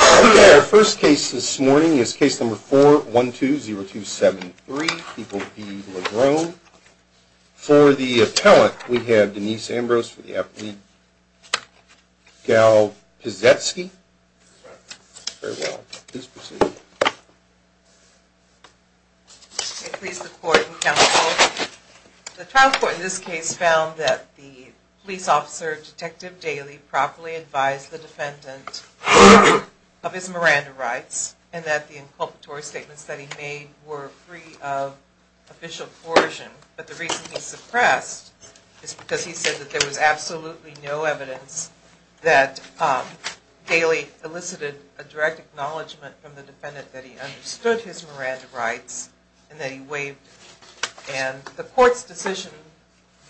Okay, our first case this morning is case number 4120273, People v. Lagrone. For the appellant, we have Denise Ambrose for the affidavit. Gal Pizetsky. Farewell. Please proceed. I please the court and counsel. The trial court in this case found that the police officer, Detective Daly, properly advised the defendant of his Miranda rights, and that the inculpatory statements that he made were free of official coercion. But the reason he suppressed is because he said that there was absolutely no evidence that Daly elicited a direct acknowledgment from the defendant that he understood his Miranda rights, and that he waived them. And the court's decision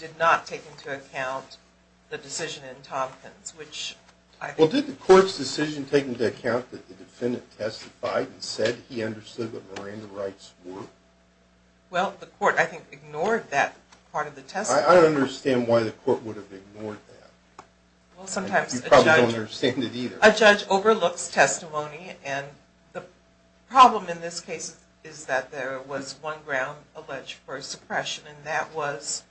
did not take into account the decision in Tompkins, which I think... Well, did the court's decision take into account that the defendant testified and said he understood what Miranda rights were? Well, the court, I think, ignored that part of the testimony. I don't understand why the court would have ignored that. Well, sometimes a judge... You probably don't understand it either. A judge overlooks testimony, and the problem in this case is that there was one ground alleged for suppression, and that was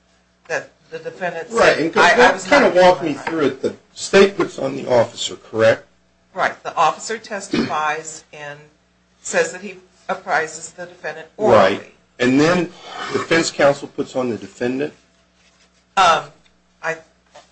that the defendant... Right, and kind of walk me through it. The state puts on the officer, correct? Right. The officer testifies and says that he apprises the defendant orally. And then the defense counsel puts on the defendant?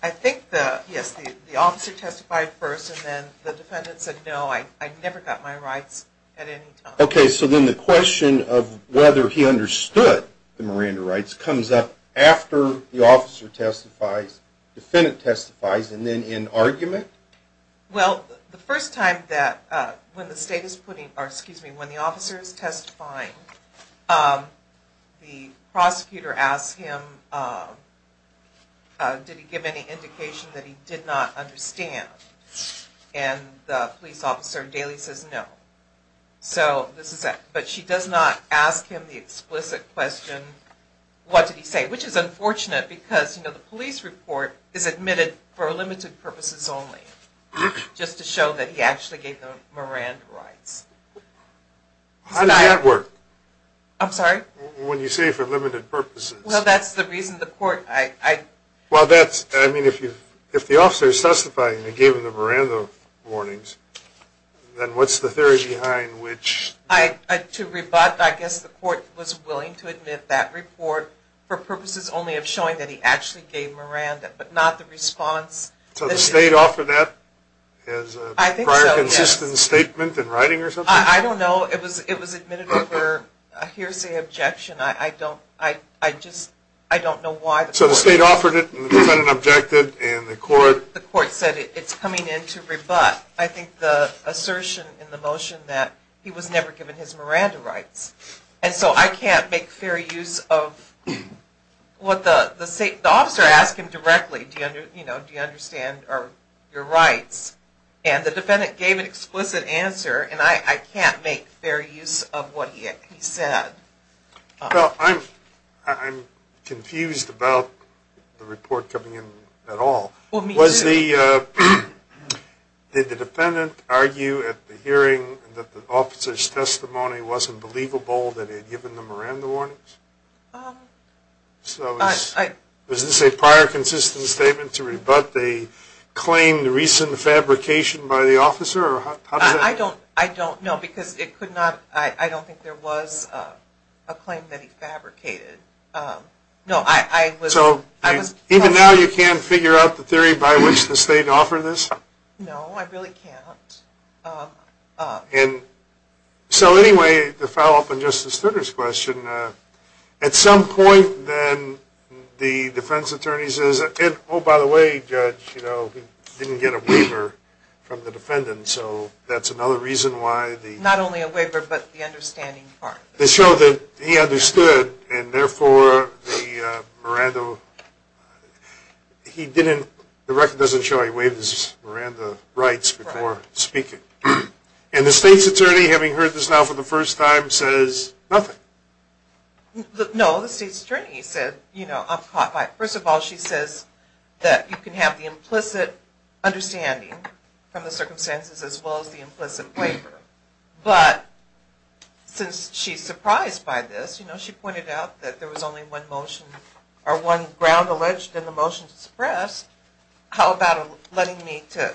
I think the... Yes, the officer testified first, and then the defendant said, no, I never got my rights at any time. Okay, so then the question of whether he understood the Miranda rights comes up after the officer testifies, defendant testifies, and then in argument? Well, the first time that when the state is putting... Or, excuse me, when the officer is testifying, the prosecutor asks him, did he give any indication that he did not understand? And the police officer daily says no. So, this is... But she does not ask him the explicit question, what did he say, which is unfortunate because, you know, the police report is admitted for limited purposes only. Just to show that he actually gave the Miranda rights. How does that work? I'm sorry? When you say for limited purposes? Well, that's the reason the court... Well, that's... I mean, if the officer is testifying and they gave him the Miranda warnings, then what's the theory behind which... To rebut, I guess the court was willing to admit that report for purposes only of showing that he actually gave Miranda, but not the response. So, the state offered that as a prior consistent statement in writing or something? I don't know. It was admitted over a hearsay objection. I don't... I just... I don't know why the court... So, the state offered it, and the defendant objected, and the court... The court said it's coming in to rebut. I think the assertion in the motion that he was never given his Miranda rights. And so, I can't make fair use of what the state... The officer asked him directly, you know, do you understand your rights? And the defendant gave an explicit answer, and I can't make fair use of what he said. Well, I'm... I'm confused about the report coming in at all. Well, me too. Was the... Did the defendant argue at the hearing that the officer's testimony wasn't believable that he had given the Miranda warnings? Um... So, is this a prior consistent statement to rebut the claim, the recent fabrication by the officer? I don't... I don't know, because it could not... I don't think there was a claim that he fabricated. No, I was... So, even now you can't figure out the theory by which the state offered this? No, I really can't. Um... And... So, anyway, to follow up on Justice Studer's question, at some point then the defense attorney says, oh, by the way, Judge, you know, he didn't get a waiver from the defendant, so that's another reason why the... Not only a waiver, but the understanding part. They show that he understood, and therefore the Miranda... He didn't... The record doesn't show he waived his Miranda rights before speaking. And the state's attorney, having heard this now for the first time, says nothing. No, the state's attorney said, you know, I'm caught by... First of all, she says that you can have the implicit understanding from the circumstances as well as the implicit waiver. But, since she's surprised by this, you know, she pointed out that there was only one motion, or one ground alleged in the motion to suppress. How about letting me to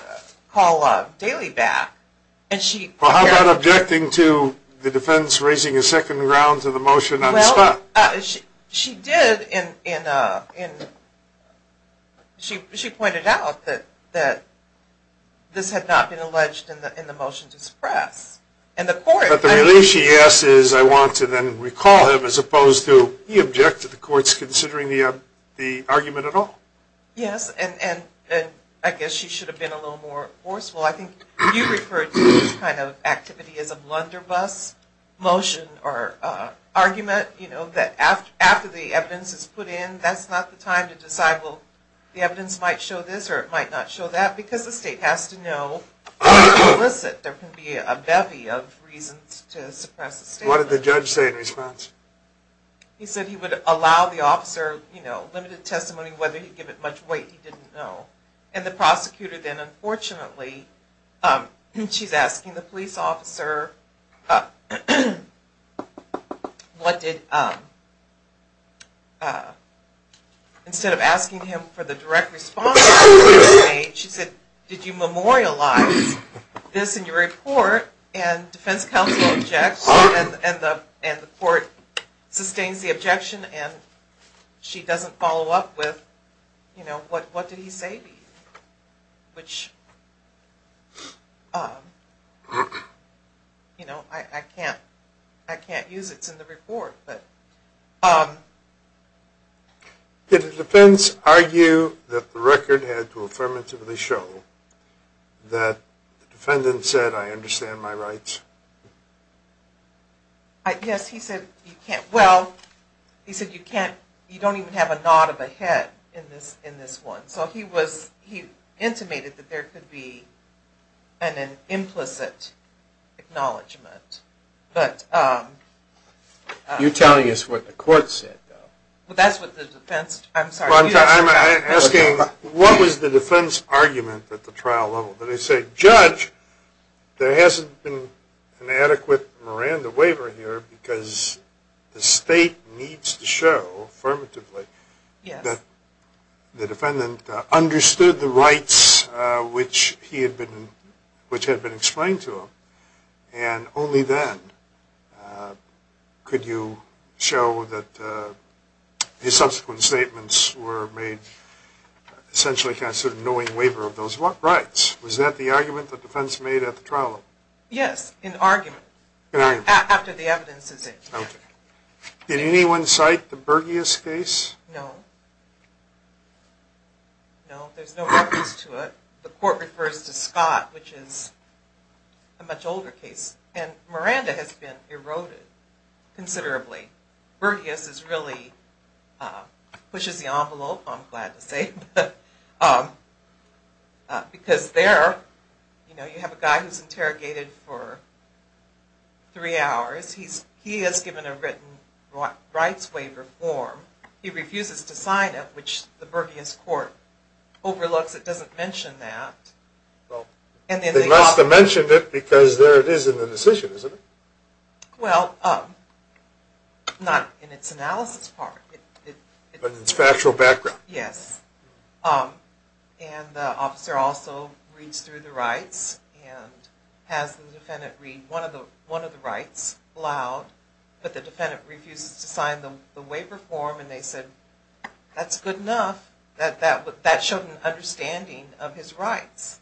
call Daly back? Well, how about objecting to the defense raising a second ground to the motion on the spot? She did in... She pointed out that this had not been alleged in the motion to suppress. But the reason she asked is I want to then recall him, as opposed to, he objected to the courts considering the argument at all. Yes, and I guess she should have been a little more forceful. I think you referred to this kind of activity as a blunderbuss motion or argument, you know, that after the evidence is put in, that's not the time to decide, well, the evidence might show this or it might not show that, because the state has to know what's implicit. There can be a bevy of reasons to suppress a statement. What did the judge say in response? He said he would allow the officer, you know, limited testimony, whether he'd give it much weight, he didn't know. And the prosecutor then, unfortunately, she's asking the police officer, what did... Instead of asking him for the direct response, she said, did you memorialize this in your report? And defense counsel objects, and the court sustains the objection, and she doesn't follow up with, you know, what did he say to you? Which... You know, I can't... I can't use it, it's in the report, but... Did the defense argue that the record had to affirmatively show that the defendant said, I understand my rights? Yes, he said, you can't, well, he said you can't, you don't even have a nod of a head in this one. So he was, he intimated that there could be an implicit acknowledgment, but... You're telling us what the court said, though. I'm asking, what was the defense argument at the trial level? Did they say, judge, there hasn't been an adequate Miranda waiver here, because the state needs to show, affirmatively, that the defendant understood the rights which he had been explained to him, and only then could you show that his subsequent statements were made essentially knowing waiver of those rights. Was that the argument the defense made at the trial level? Yes, an argument. After the evidence is in. Did anyone cite the Berghias case? No. No, there's no reference to it. The court refers to Scott, which is a much older case, and Miranda has been eroded considerably. Berghias is really, pushes the envelope I'm glad to say, but, because there, you know, you have a guy who's interrogated for three hours. He has given a written rights waiver form. He refuses to sign it, which the Berghias court overlooks. It doesn't mention that. They must have mentioned it, because there it is in the decision, isn't it? Well, not in its analysis part. But in its factual background. Yes. And the officer also reads through the rights and has the defendant read one of the rights loud, but the defendant refuses to sign the waiver form, and they said that's good enough. That showed an understanding of his rights.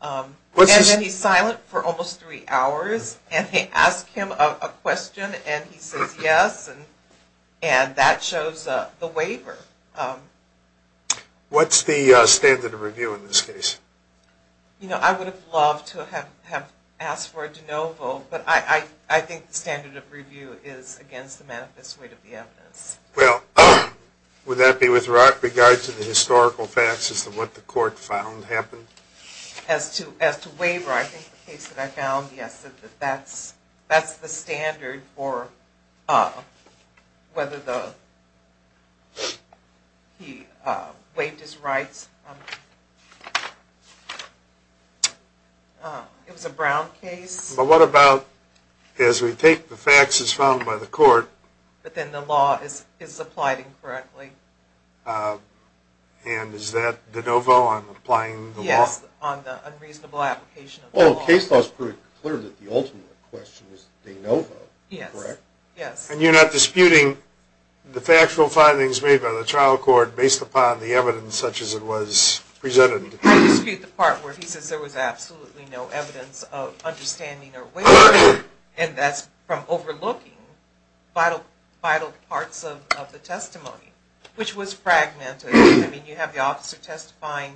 And then he's silent for almost three hours, and they ask him a question, and he says yes, and that shows the waiver. What's the standard of review in this case? You know, I would have loved to have asked for a de novo, but I think the standard of review is against the manifest weight of the evidence. Well, would that be with regard to the historical facts as to what the court found happened? As to waiver, I think the case that I found, yes, that's the standard for whether the he waived his rights. It was a Brown case. But what about, as we take the facts as found by the court. But then the law is applied incorrectly. And is that de novo on applying the law? Yes, on the unreasonable application of the law. Well, the case law is pretty clear that the ultimate question is de novo, correct? Yes. And you're not disputing the factual findings made by the trial court based upon the evidence such as it was presented. I dispute the part where he says there was absolutely no evidence of understanding or waiver and that's from overlooking vital parts of the testimony, which was fragmented. I mean, you have the officer testifying.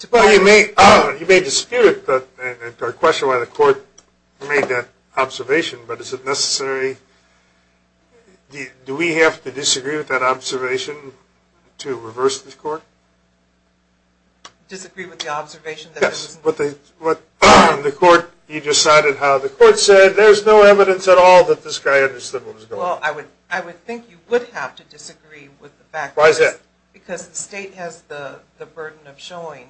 You may dispute the question why the court made that observation, but is it necessary, do we have to disagree with that observation to reverse the court? Disagree with the observation? Yes. You decided how the court said, there's no evidence at all that this guy understood what was going on. Well, I would think you would have to disagree with the fact Why is that? Because the state has the burden of showing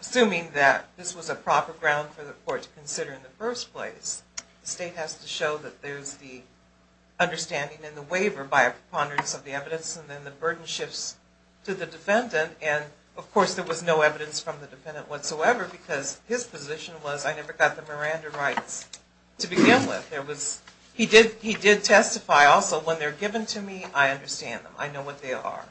assuming that this was a proper ground for the court to consider in the first place. The state has to show that there's the waiver by a preponderance of the evidence and then the burden shifts to the defendant and of course there was no evidence from the defendant whatsoever because his position was, I never got the Miranda rights to begin with. He did testify also, when they're given to me, I understand them. I know what they are.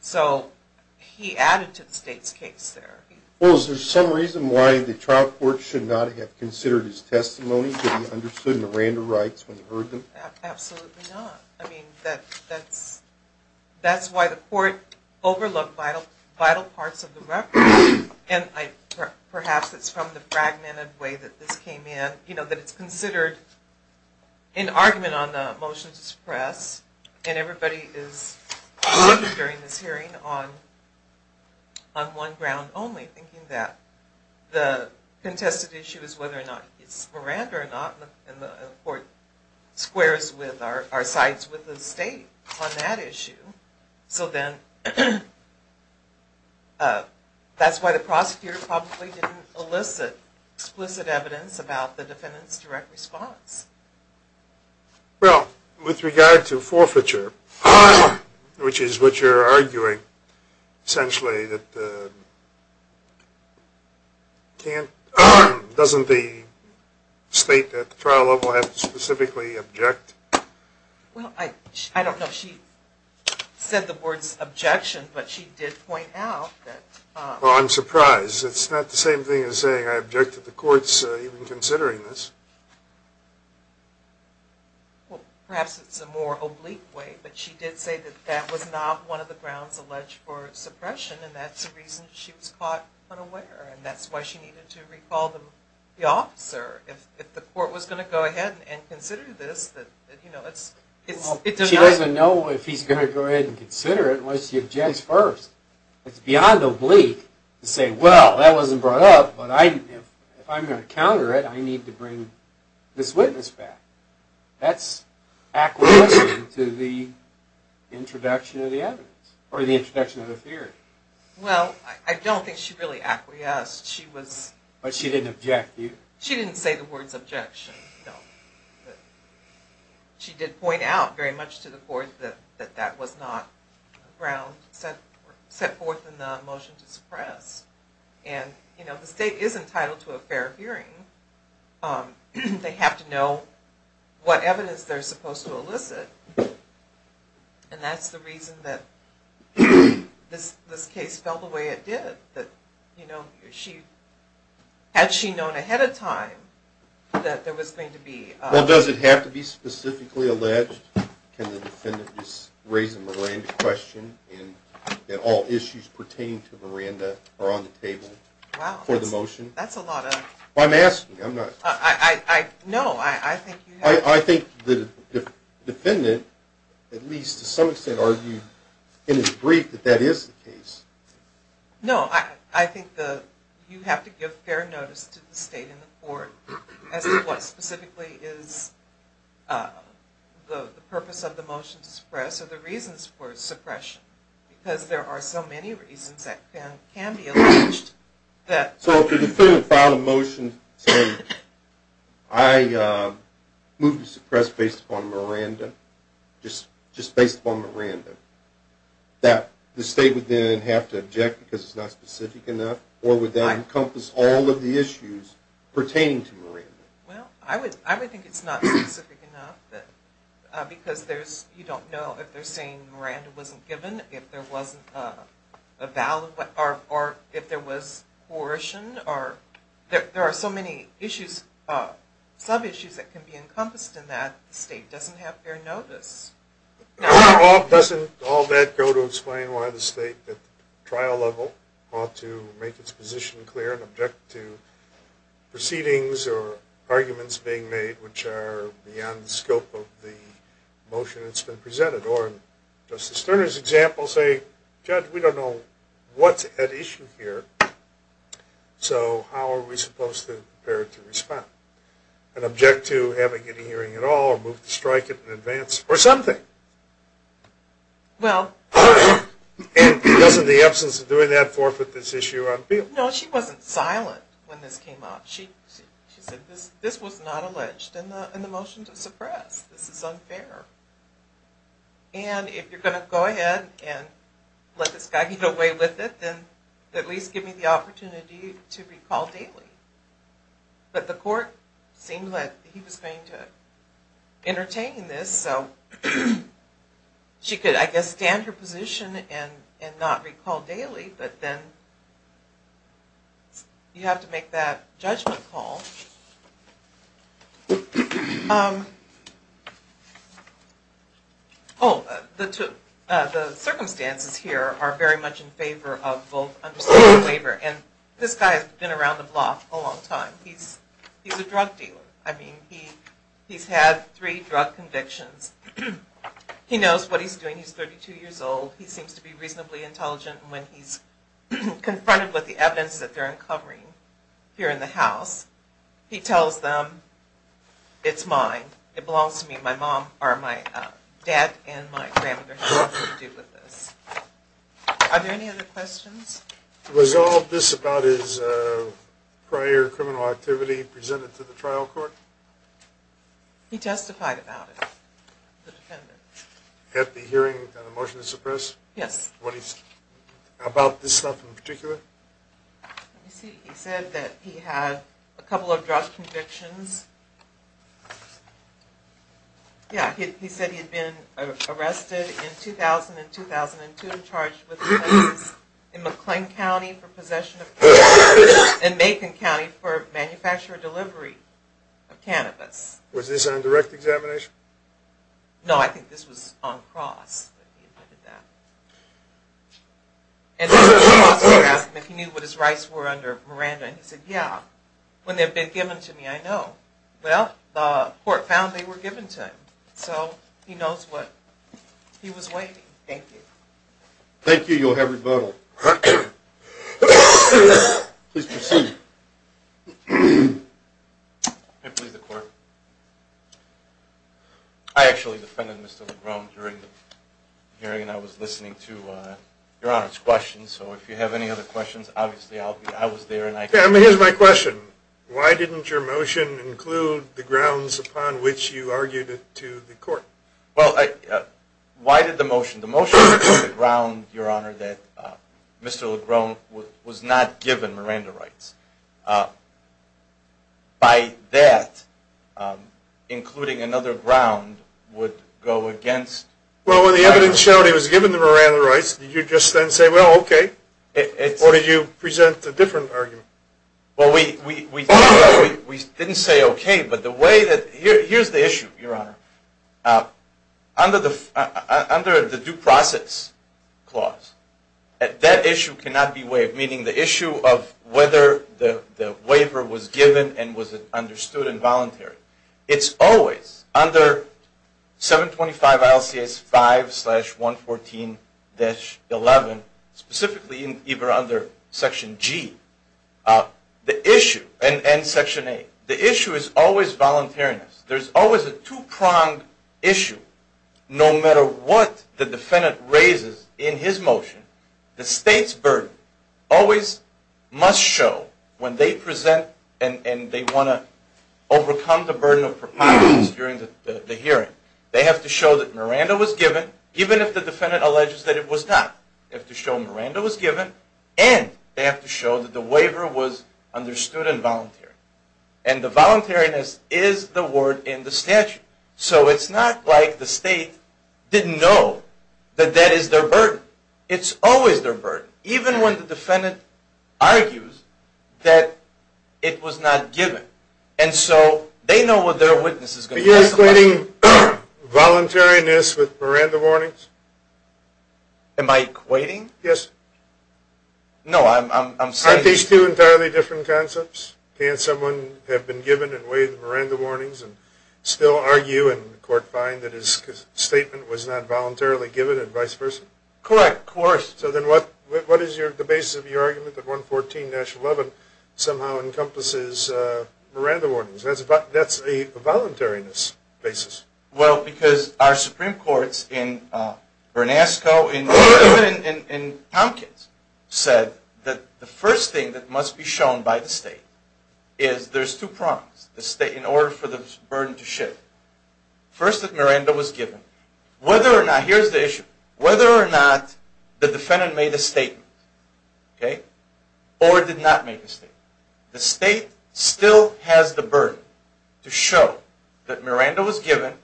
So, he added to the state's case there. Well, is there some reason why the trial court should not have considered his testimony, that he understood Miranda rights when he heard them? Absolutely not. I mean, that's why the court overlooked vital parts of the record and perhaps it's from the fragmented way that this came in that it's considered an argument on the motion to suppress and everybody is looking during this hearing on one ground only, thinking that the contested issue is whether or not it's Miranda or not and the court squares with our sides with the state on that issue. So then, that's why the prosecutor probably didn't elicit explicit evidence about the defendant's direct response. Well, with regard to forfeiture, which is what you're arguing, essentially, that can't, doesn't the state at the trial level have to specifically object? Well, I don't know. She said the words objection, but she did point out that... Well, I'm surprised. It's not the same thing as saying I object to the courts even considering this. Well, perhaps it's a more oblique way, but she did say that that was not one of the grounds alleged for suppression and that's the reason she was caught unaware and that's why she needed to recall the officer if the court was going to go ahead and consider this. She doesn't know if he's going to go ahead and consider it unless he objects first. It's beyond oblique to say, well, that wasn't brought up, but if I'm going to counter it, I need to bring this witness back. That's acquiescing to the introduction of the evidence, or the introduction of the theory. Well, I don't think she really acquiesced. But she didn't object? She didn't say the words objection, no. She did point out very much to the court that that was not ground set forth in the motion to suppress. The state is entitled to a fair hearing. They have to know what evidence they're supposed to elicit. And that's the reason that this case fell the way it did. Had she known ahead of time that there was going to be... Well, does it have to be specifically alleged? Can the defendant just raise a Miranda question and that all issues pertaining to Miranda are on the table for the motion? I'm asking, I'm not... I think the defendant, at least to some extent, argued in his brief that that is the case. No, I think you have to give fair notice to the state and the court as to what specifically is the purpose of the motion to suppress or the reasons for suppression. Because there are so many reasons that can be alleged. So if the defendant filed a motion to say, I move to suppress based upon Miranda, just based upon Miranda, that the state would then have to object because it's not specific enough or would that encompass all of the issues pertaining to Miranda? Well, I would think it's not specific enough because there's... you don't know if they're saying Miranda wasn't given, if there wasn't a valid... or if there was coercion or... there are so many issues, sub-issues that can be encompassed in that the state doesn't have fair notice. Doesn't all that go to explain why the state, at the trial level, ought to make its position clear and object to proceedings or arguments being made which are beyond the scope of the motion that's been presented? Or, in Justice Sterner's example, say, Judge, we don't know what's at issue here, so how are we supposed to prepare to respond? And object to having any hearing at all or move to strike it in advance? Or something? And doesn't the absence of doing that forfeit this issue on appeal? No, she wasn't silent when this came out. She said this was not alleged in the motion to suppress. This is unfair. And if you're going to go ahead and let this guy get away with it, then at least give me the opportunity to recall daily. But the court seemed like he was going to entertain this, so she could, I guess, stand her position and not recall daily, but then you have to make that judgment call. Oh, the circumstances here are very much in favor of both understanding and waiver. And this guy has been around the block a long time. He's a drug dealer. I mean, he's had three drug convictions. He knows what he's doing. He's 32 years old. He seems to be reasonably intelligent, and when he's confronted with the evidence that they're uncovering here in the House, he tells them it's mine. It belongs to me. My mom, or my dad and my grandmother have nothing to do with this. Are there any other questions? Was all this about his prior criminal activity presented to the trial court? He testified about it. At the hearing on the motion to suppress? Yes. About this stuff in particular? He said that he had a couple of drug convictions. Yeah, he said he had been arrested in 2000 and 2002 and charged with in McLean County for possession of cannabis and in Macon County for manufacturer delivery of cannabis. Was this on direct examination? No, I think this was on cross. And then the prosecutor asked him if he knew what his rights were under Miranda, and he said, yeah. When they've been given to me I know. Well, the court found they were given to him. So, he knows what he was waiting. Thank you. Thank you. You'll have rebuttal. Please proceed. I actually defended Mr. Legrome during the hearing, and I was listening to Your Honor's questions, so if you have any other questions, obviously I was there. Well, I Why did the motion? The motion was on the ground, Your Honor, that Mr. Legrome was not given Miranda rights. By that, including another ground, would go against Well, when the evidence showed he was given the Miranda rights, did you just then say, well, okay? Or did you present a different argument? Well, we didn't say okay, but the way Here's the issue, Your Honor. Under the due process clause, that issue cannot be waived, meaning the issue of whether the waiver was given and was it understood and voluntary. It's always under 725 ILCS 5 slash 114-11, specifically either under Section G and Section 8. The issue is always voluntariness. There's always a two-pronged issue, no matter what the defendant raises in his motion. The state's burden always must show when they present and they want to overcome the burden of preponderance during the hearing. They have to show that Miranda was given, even if the defendant alleges that it was not. They have to show that the waiver was understood and voluntary. And the voluntariness is the word in the statute. So it's not like the state didn't know that that is their burden. It's always their burden, even when the defendant argues that it was not given. And so they know what their witness is going to say. Are you equating voluntariness with Miranda warnings? Am I equating? Yes. No, I'm saying... Aren't these two entirely different concepts? Can someone have been given and waived the Miranda warnings and still argue in court find that his statement was not voluntarily given and vice versa? Correct, of course. So then what is the basis of your argument that 114-11 somehow encompasses Miranda warnings? That's a voluntariness basis. Well, because our Supreme Courts in Bernasco, even in Tompkins, said that the first thing that must be shown by the state is there's two prongs in order for the burden to shift. First, that Miranda was given. Whether or not, here's the issue, whether or not the defendant made a statement or did not make a statement. The state still has the burden to show that Miranda was given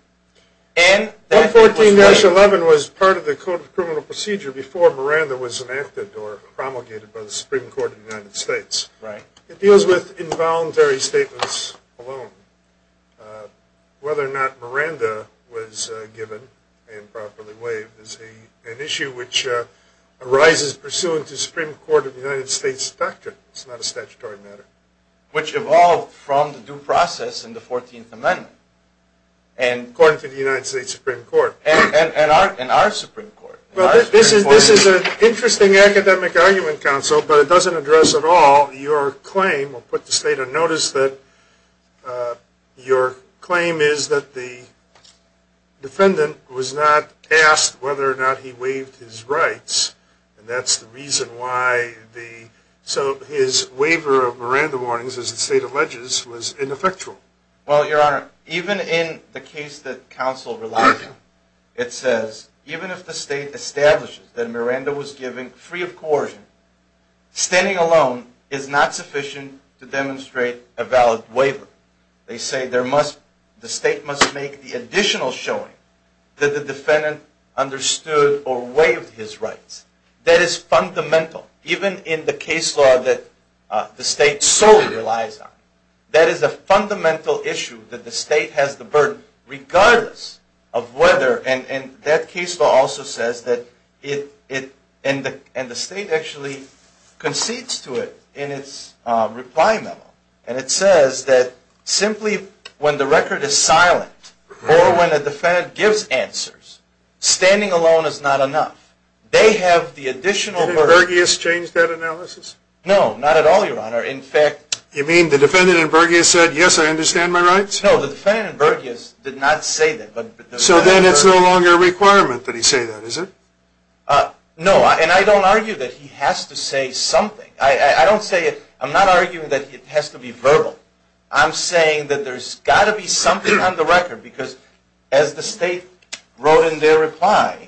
and that it was given. 114-11 was part of the Code of Criminal Procedure before Miranda was enacted or promulgated by the Supreme Court of the United States. It deals with involuntary statements alone. Whether or not Miranda was given and properly waived is an issue which arises pursuant to the Supreme Court of the United States doctrine. It's not a statutory matter. Which evolved from the due process in the 14th Amendment. According to the United States Supreme Court. And our Supreme Court. Well, this is an interesting academic argument, counsel, but it doesn't address at all your claim. We'll put the state on notice that your claim is that the defendant was not asked whether or not he waived his rights. And that's the reason why his waiver of Miranda warnings, as the state alleges, was ineffectual. Well, your honor, even in the case that counsel relies on, it says, even if the state establishes that Miranda was given free of coercion, standing alone is not sufficient to demonstrate a valid waiver. They say the state must make the additional showing that the defendant understood or waived his rights. That is fundamental. Even in the case law that the state solely relies on. That is a fundamental issue that the state has the burden, regardless of whether, and that case law also says that it, and the state actually concedes to it in its reply memo. And it says that simply when the record is silent, or when a defendant gives answers, standing alone is not enough. They have the additional burden. Did Verghese change that analysis? No, not at all, your honor. You mean the defendant in Verghese said, yes, I understand my rights? No, the defendant in Verghese did not say that. So then it's no longer a requirement that he say that, is it? No, and I don't argue that he has to say something. I don't say it, I'm not arguing that it has to be verbal. I'm saying that there's got to be something on the record because as the state wrote in their reply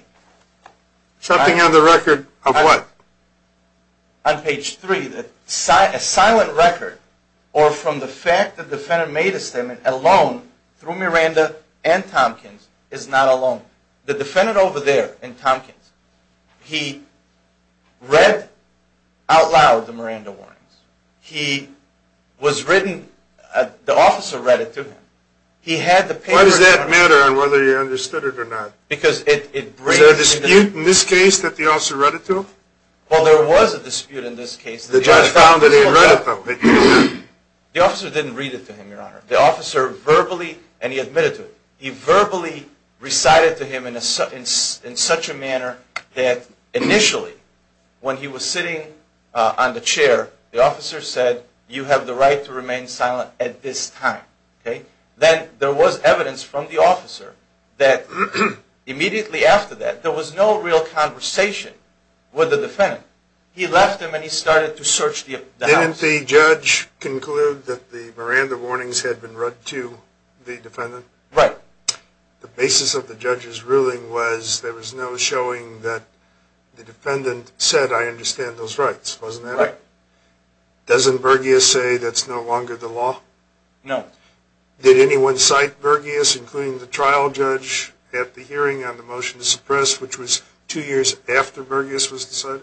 Something on the record of what? On page 3, a silent record or from the fact that the defendant made a statement alone through Miranda and Tompkins is not enough. The defendant over there in Tompkins, he read out loud the Miranda warnings. He was written the officer read it to him. Why does that matter? on whether you understood it or not? Because it breaks into Well, there was a dispute in this case The judge found that he had read it to him. The officer didn't read it to him, your honor. The officer verbally, and he admitted to it, he verbally recited to him in such a manner that initially, when he was sitting on the chair, the officer said, you have the right to remain silent at this time. Then there was evidence from the officer that immediately after that, there was no real conversation with the defendant. He left him and he started to search the house. Didn't the judge conclude that the Miranda warnings had been read to the defendant? Right. The basis of the judge's ruling was there was no showing that the defendant said I understand those rights, wasn't there? Right. Doesn't Bergius say that's no longer the law? No. Did anyone cite Bergius including the trial judge at the hearing on the motion to suppress, which was two years after Bergius was decided?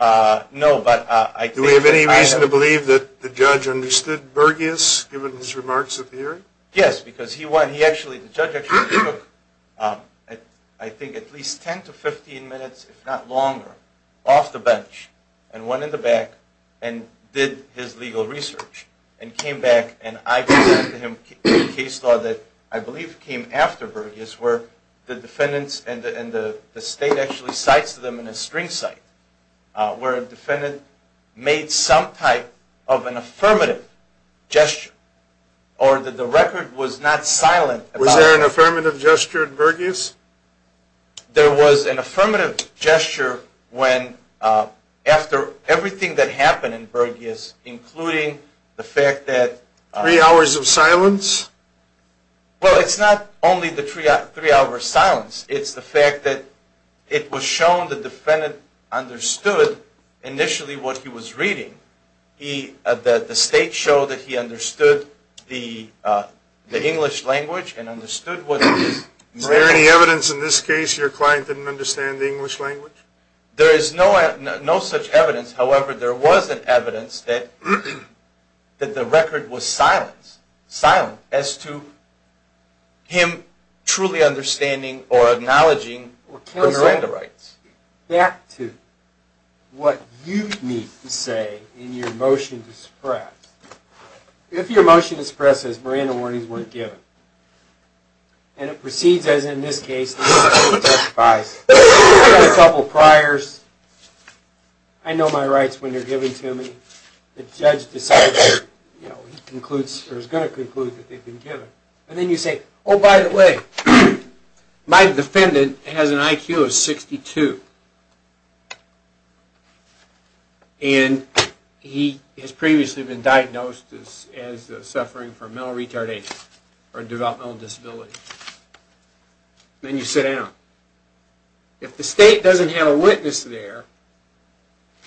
No, but Do we have any reason to believe that the judge understood Bergius given his remarks at the hearing? Yes, because he actually, the judge actually took I think at least 10 to 15 minutes, if not longer, off the bench and went in the back and did his legal research and came back and I presented to him a case law that I believe came after Bergius where the defendants and the state actually cites them in a string cite where a defendant made some type of an affirmative gesture or that the record was not silent. Was there an affirmative gesture in Bergius? There was an affirmative gesture when after everything that happened in Bergius, including the fact that Three hours of silence? Well, it's not only the three hours of silence. It's the fact that it was shown the defendant understood initially what he was reading. The state showed that he understood the English language and understood what it was. Is there any evidence in this case your client didn't understand the English language? There is no such evidence. However, there was an evidence that the record was silent as to him truly understanding or acknowledging the Miranda rights. Back to what you need to say in your motion to suppress. If your motion to suppress says Miranda warnings weren't given and it proceeds as in this case, I've got a couple priors. I know my rights when they're given to me. The judge decides or is going to conclude that they've been given. And then you say, oh by the way, my defendant has an IQ of 62. And he has previously been diagnosed as suffering from mental retardation or developmental disability. Then you sit down. If the state doesn't have a witness there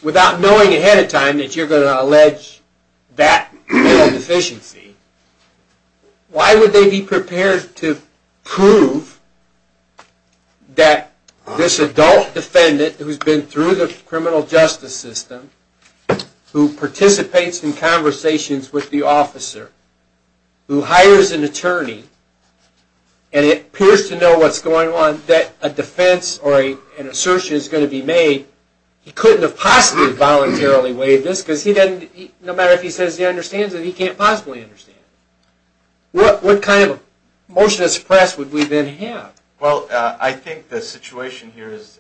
without knowing ahead of time that you're going to allege that mental deficiency, why would they be prepared to prove that this adult defendant who's been through the criminal justice system, who participates in conversations with the officer, who hires an attorney and it appears to know what's going on that a defense or he couldn't have possibly voluntarily waived this because no matter if he says he understands it, he can't possibly understand it. What kind of motion to suppress would we then have? Well, I think the situation here is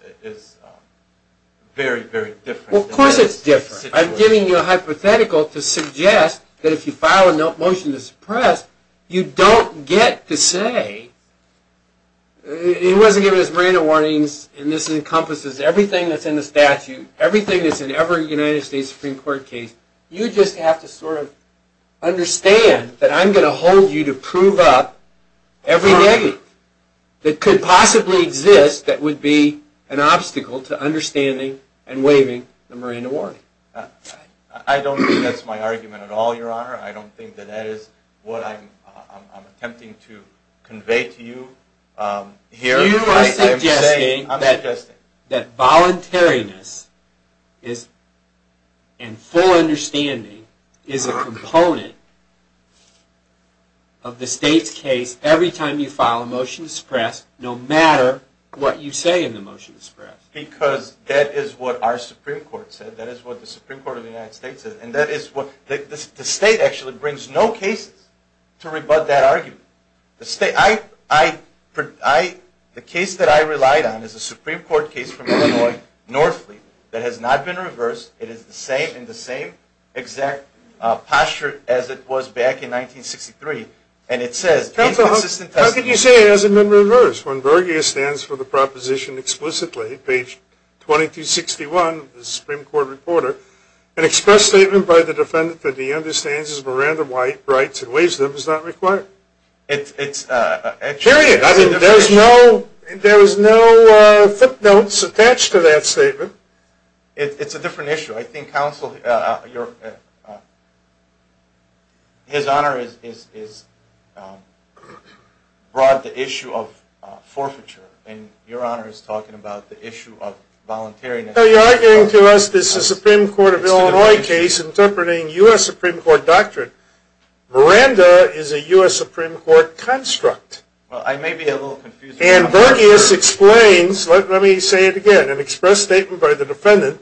very, very different. Of course it's different. I'm giving you a hypothetical to suggest that if you file a motion to suppress, you don't get to say it wasn't given as Miranda warnings and this encompasses everything that's in the statute, everything that's in every United States Supreme Court case. You just have to sort of understand that I'm going to hold you to prove up every negative that could possibly exist that would be an obstacle to understanding and waiving the Miranda warning. I don't think that's my argument at all, Your Honor. I don't think that that is what I'm attempting to convey to you. You are suggesting that voluntariness and full understanding is a component of the state's case every time you file a motion to suppress, no matter what you say in the motion to suppress. Because that is what our Supreme Court said. That is what the Supreme Court of the United States said. The state actually brings no cases to rebut that argument. The case that I relied on is a Supreme Court case from Illinois, Northleaf, that has not been reversed. It is in the same exact posture as it was back in 1963 and it says, How can you say it hasn't been reversed when Berger stands for the proposition explicitly page 2261 of the Supreme Court Reporter an express statement by the defendant that he understands his Miranda rights and waives them is not required. Period. There is no footnotes attached to that statement. It's a different issue. I think counsel, His Honor is brought the issue of forfeiture and Your Honor is talking about the issue of voluntariness. You're arguing to us this is a Supreme Court of Illinois case interpreting U.S. Supreme Court doctrine. Miranda is a U.S. Supreme Court construct. And Berger explains let me say it again, an express statement by the defendant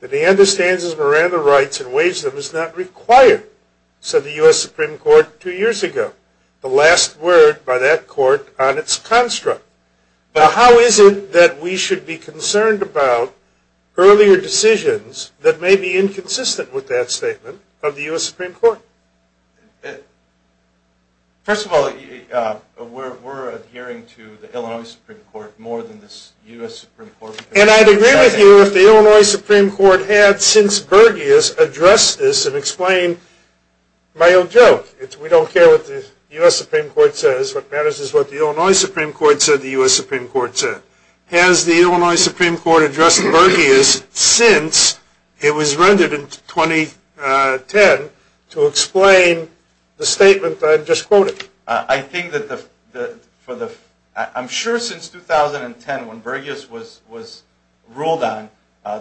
that he understands his Miranda rights and waives them is not required said the U.S. Supreme Court two years ago. The last word by that court on its construct. Now how is it that we should be concerned about earlier decisions that may be inconsistent with that statement of the U.S. Supreme Court? First of all, we're adhering to the Illinois Supreme Court more than the U.S. Supreme Court. And I'd agree with you if the Illinois Supreme Court had since Berger addressed this and explained my own joke. We don't care what the U.S. Supreme Court says. What matters is what the Illinois Supreme Court said the U.S. Supreme Court said. Has the Illinois Supreme Court addressed Berger since it was rendered in 2010 to explain the statement that I just quoted? I'm sure since 2010 when Berger was ruled on,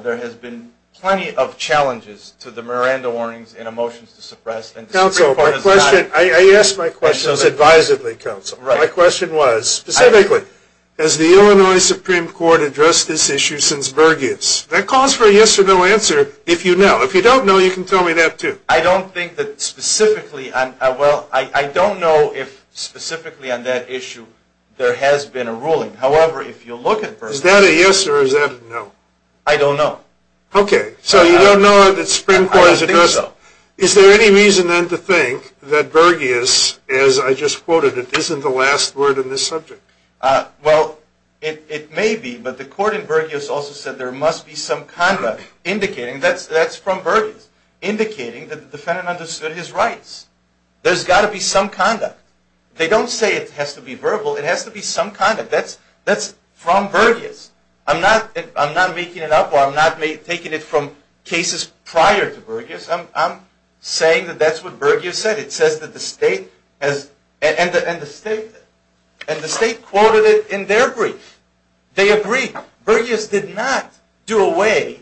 there has been plenty of challenges to the Miranda warnings in a motion to suppress. I ask my questions advisedly, counsel. My question was specifically, has the Illinois Supreme Court addressed this issue since Berger was ruled on? I don't think that specifically, well I don't know if specifically on that issue there has been a ruling. However, if you look at Berger Is that a yes or is that a no? I don't know. Okay, so you don't know that the Supreme Court has addressed it? I don't think so. Is there any reason then to think that Berger, as I just quoted, isn't the last word in this subject? Well, it may be, but the court in Berger also said there must be some conduct indicating, that's from Berger indicating that the defendant understood his rights. There's got to be some conduct. They don't say it has to be verbal, it has to be some conduct. That's from Berger. I'm not making it up or I'm not taking it from cases prior to Berger. I'm saying that that's what Berger said. It says that the state has and the state quoted it in their brief. They agree. Berger did not do away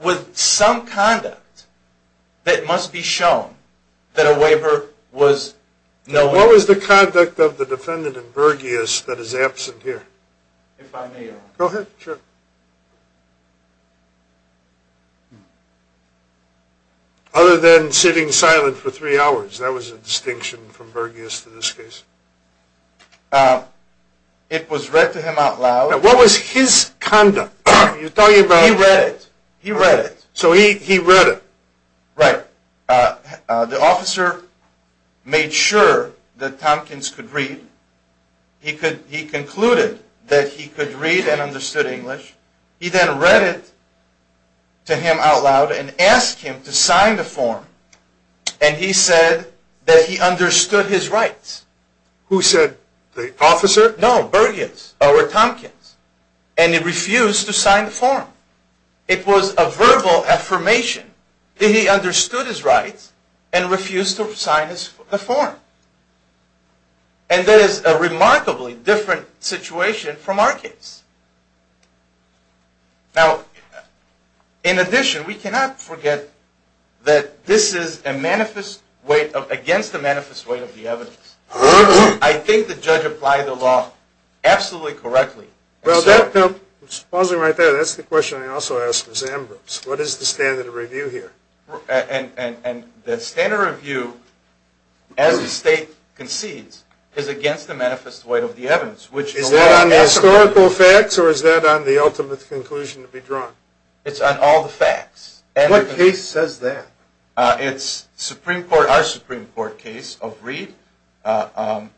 with some conduct that must be shown that a waiver was no way. What was the conduct of the defendant in Berger that is absent here? If I may? Go ahead. Sure. Other than sitting silent for three hours. That was a distinction from Berger in this case? It was read to him out loud. What was his conduct? He read it. So he read it? Right. The officer made sure that Tompkins could read. He concluded that he could read and understood English. He then read it to him out loud and asked him to sign the form and he said that he understood his rights. Who said? The officer? No. Berger or Tompkins. And he refused to sign the form. It was a verbal affirmation that he understood his rights and refused to sign the form. And that is a remarkably different situation from our case. In addition, we cannot forget that this is a manifest weight, against the manifest weight of the evidence. I think the judge applied the law absolutely correctly. That's the question I also asked Ms. Ambrose. What is the standard of review here? The standard of review as the state concedes is against the manifest weight of the evidence. Is that on the historical facts or is that on the ultimate conclusion to be drawn? It's on all the facts. What case says that? It's our Supreme Court case of Reed and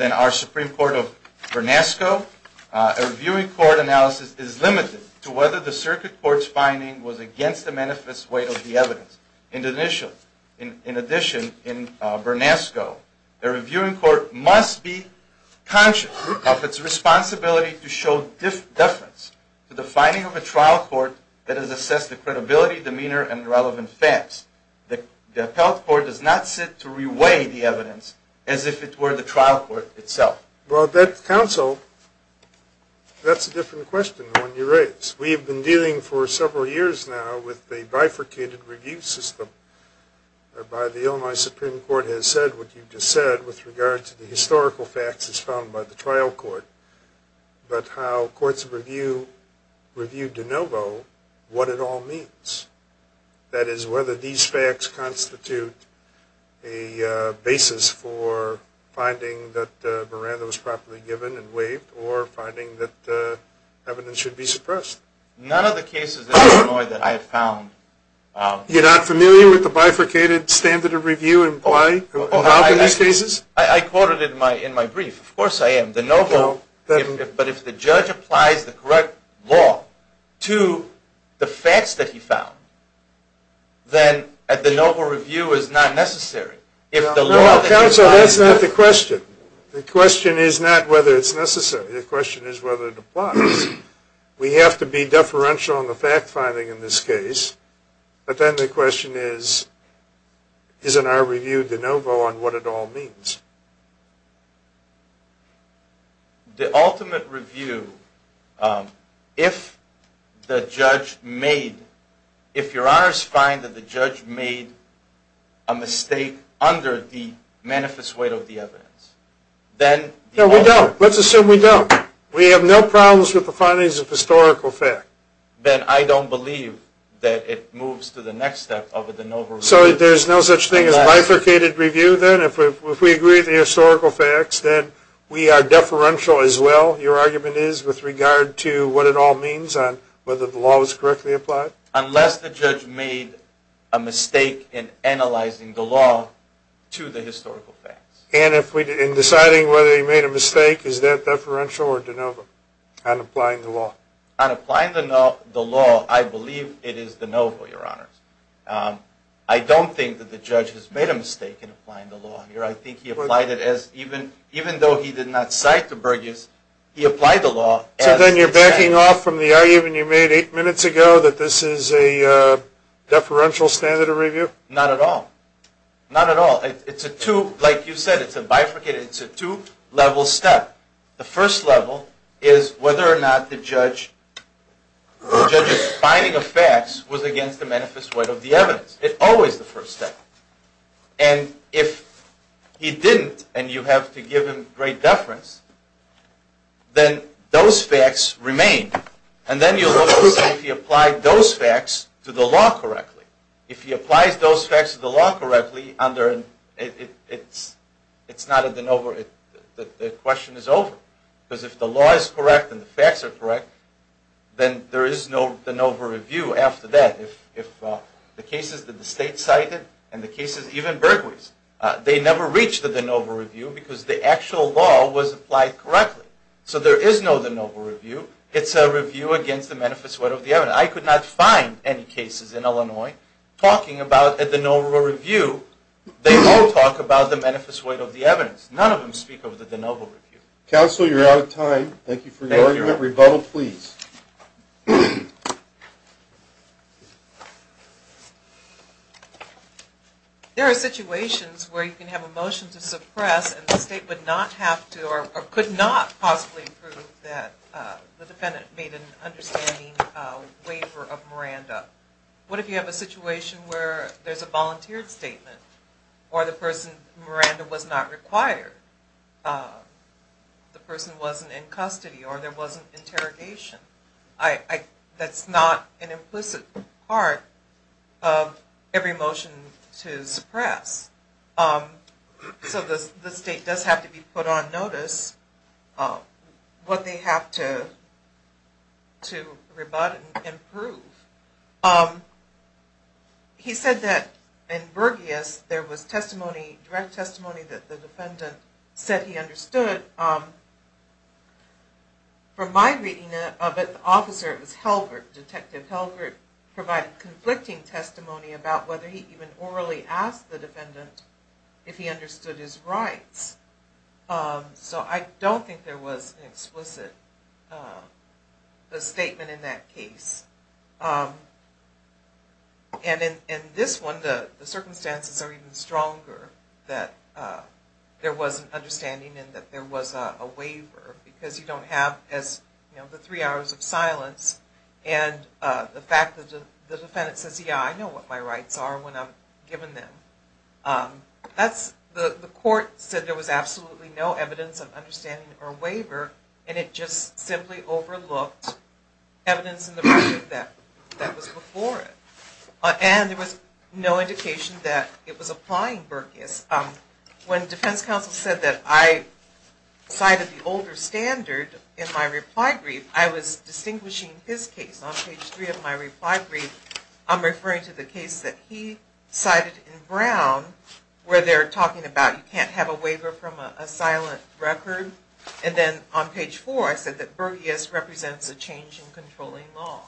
then our Supreme Court of Bernasco. A reviewing court analysis is limited to whether the circuit court's finding was against the manifest weight of the evidence. In addition, in Bernasco, a reviewing court must be conscious of its responsibility to show deference to the finding of a trial court that has assessed the credibility, demeanor, and relevant facts. The appellate court does not sit to reweigh the evidence as if it were the trial court itself. Well, that counsel, that's a different question than the one you raised. We have been dealing for several years now with a bifurcated review system whereby the Illinois Supreme Court has said what you just said with regard to the historical facts as found by the trial court. But how courts of review de novo what it all means? That is, whether these facts constitute a basis for finding that Miranda was properly given and waived or finding that evidence should be suppressed. None of the cases in Illinois that I have found... You're not familiar with the bifurcated standard of review in these cases? I quoted it in my brief. Of course I am. De novo, but if the judge applies the correct law to the facts that he found, then a de novo review is not necessary. If the law... Counsel, that's not the question. The question is not whether it's necessary. The question is whether it applies. We have to be deferential on the fact finding in this case, but then the question is, isn't our review de novo on what it all means? The ultimate review if the judge made... if your honors find that the judge made a mistake under the manifest weight of the evidence, then... No, we don't. Let's assume we don't. We have no problems with the findings of historical fact. Then I don't believe that it moves to the next step of a de novo review. So there's no such thing as bifurcated review, then? If we agree with the historical facts, then we are deferential as well, your argument is, with regard to what it all means on whether the law was correctly applied? Unless the judge made a mistake in analyzing the law to the historical facts. And in deciding whether he made a mistake, is that deferential or de novo on applying the law? On applying the law, I believe it is de novo, your honors. I don't think that the judge has made a mistake in applying the law here. I think he applied it as even though he did not cite the Burgess, he applied the law So then you're backing off from the argument you made eight minutes ago that this is a deferential standard of review? Not at all. Not at all. It's a two, like you said, it's a bifurcated, it's a two level step. The first level is whether or not the judge the judge's finding of facts was against the manifest point of the evidence. It's always the first step. And if he didn't, and you have to give him great deference, then those facts remain. And then you'll look and see if he applied those facts to the law correctly. If he applies those facts to the law correctly, it's not a de novo, the question is over. Because if the law is correct and the facts are correct, then there is no de novo review after that. If the cases that the state cited, and the cases even Burgess, they never reach the de novo review because the actual law was applied correctly. So there is no de novo review. It's a review against the manifest weight of the evidence. I could not find any cases in Illinois talking about a de novo review. They all talk about the manifest weight of the evidence. None of them speak of the de novo review. Counsel, you're out of time. Thank you for your argument. Rebuttal, please. There are situations where you can have a motion to suppress and the state would not have to or could not possibly approve that the defendant made an understanding waiver of Miranda. What if you have a situation where there's a volunteered statement or the person, Miranda, was not required. The person wasn't in custody or there wasn't interrogation. That's not an implicit part of every motion to suppress. So the state does have to be put on notice what they have to rebut and prove. He said that in Burgess there was testimony, direct testimony, that the defendant said he understood. From my reading of it the officer, it was Helbert, Detective Helbert, provided conflicting testimony about whether he even orally asked the defendant if he understood his rights. So I don't think there was an explicit statement in that case. And in this one the circumstances are even stronger that there was an understanding and that there was a waiver because you don't have the three hours of silence and the fact that the defendant says, yeah, I know what my rights are when I'm given them. The court said there was absolutely no evidence of understanding or waiver and it just simply overlooked evidence in the version that was before it. And there was no indication that it was applying Burgess. When defense counsel said that I cited the older standard in my reply brief, I was distinguishing his case. On page three of my reply brief, I'm referring to the case that he cited in Brown where they're talking about you can't have a waiver from a silent record and then on page four I said that Burgess represents a change in controlling law.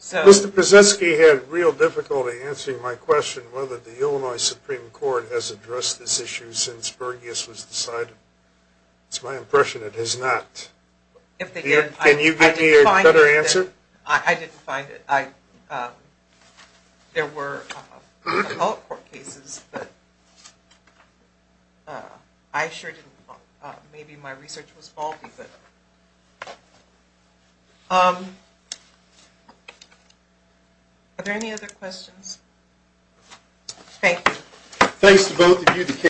Mr. Przeski had real difficulty answering my question whether the Illinois Supreme Court has addressed this issue since Burgess was decided. It's my impression it has not. Can you give me a better answer? I didn't find it. There were other court cases that I sure didn't want. Maybe my research was faulty. Are there any other questions? Thank you.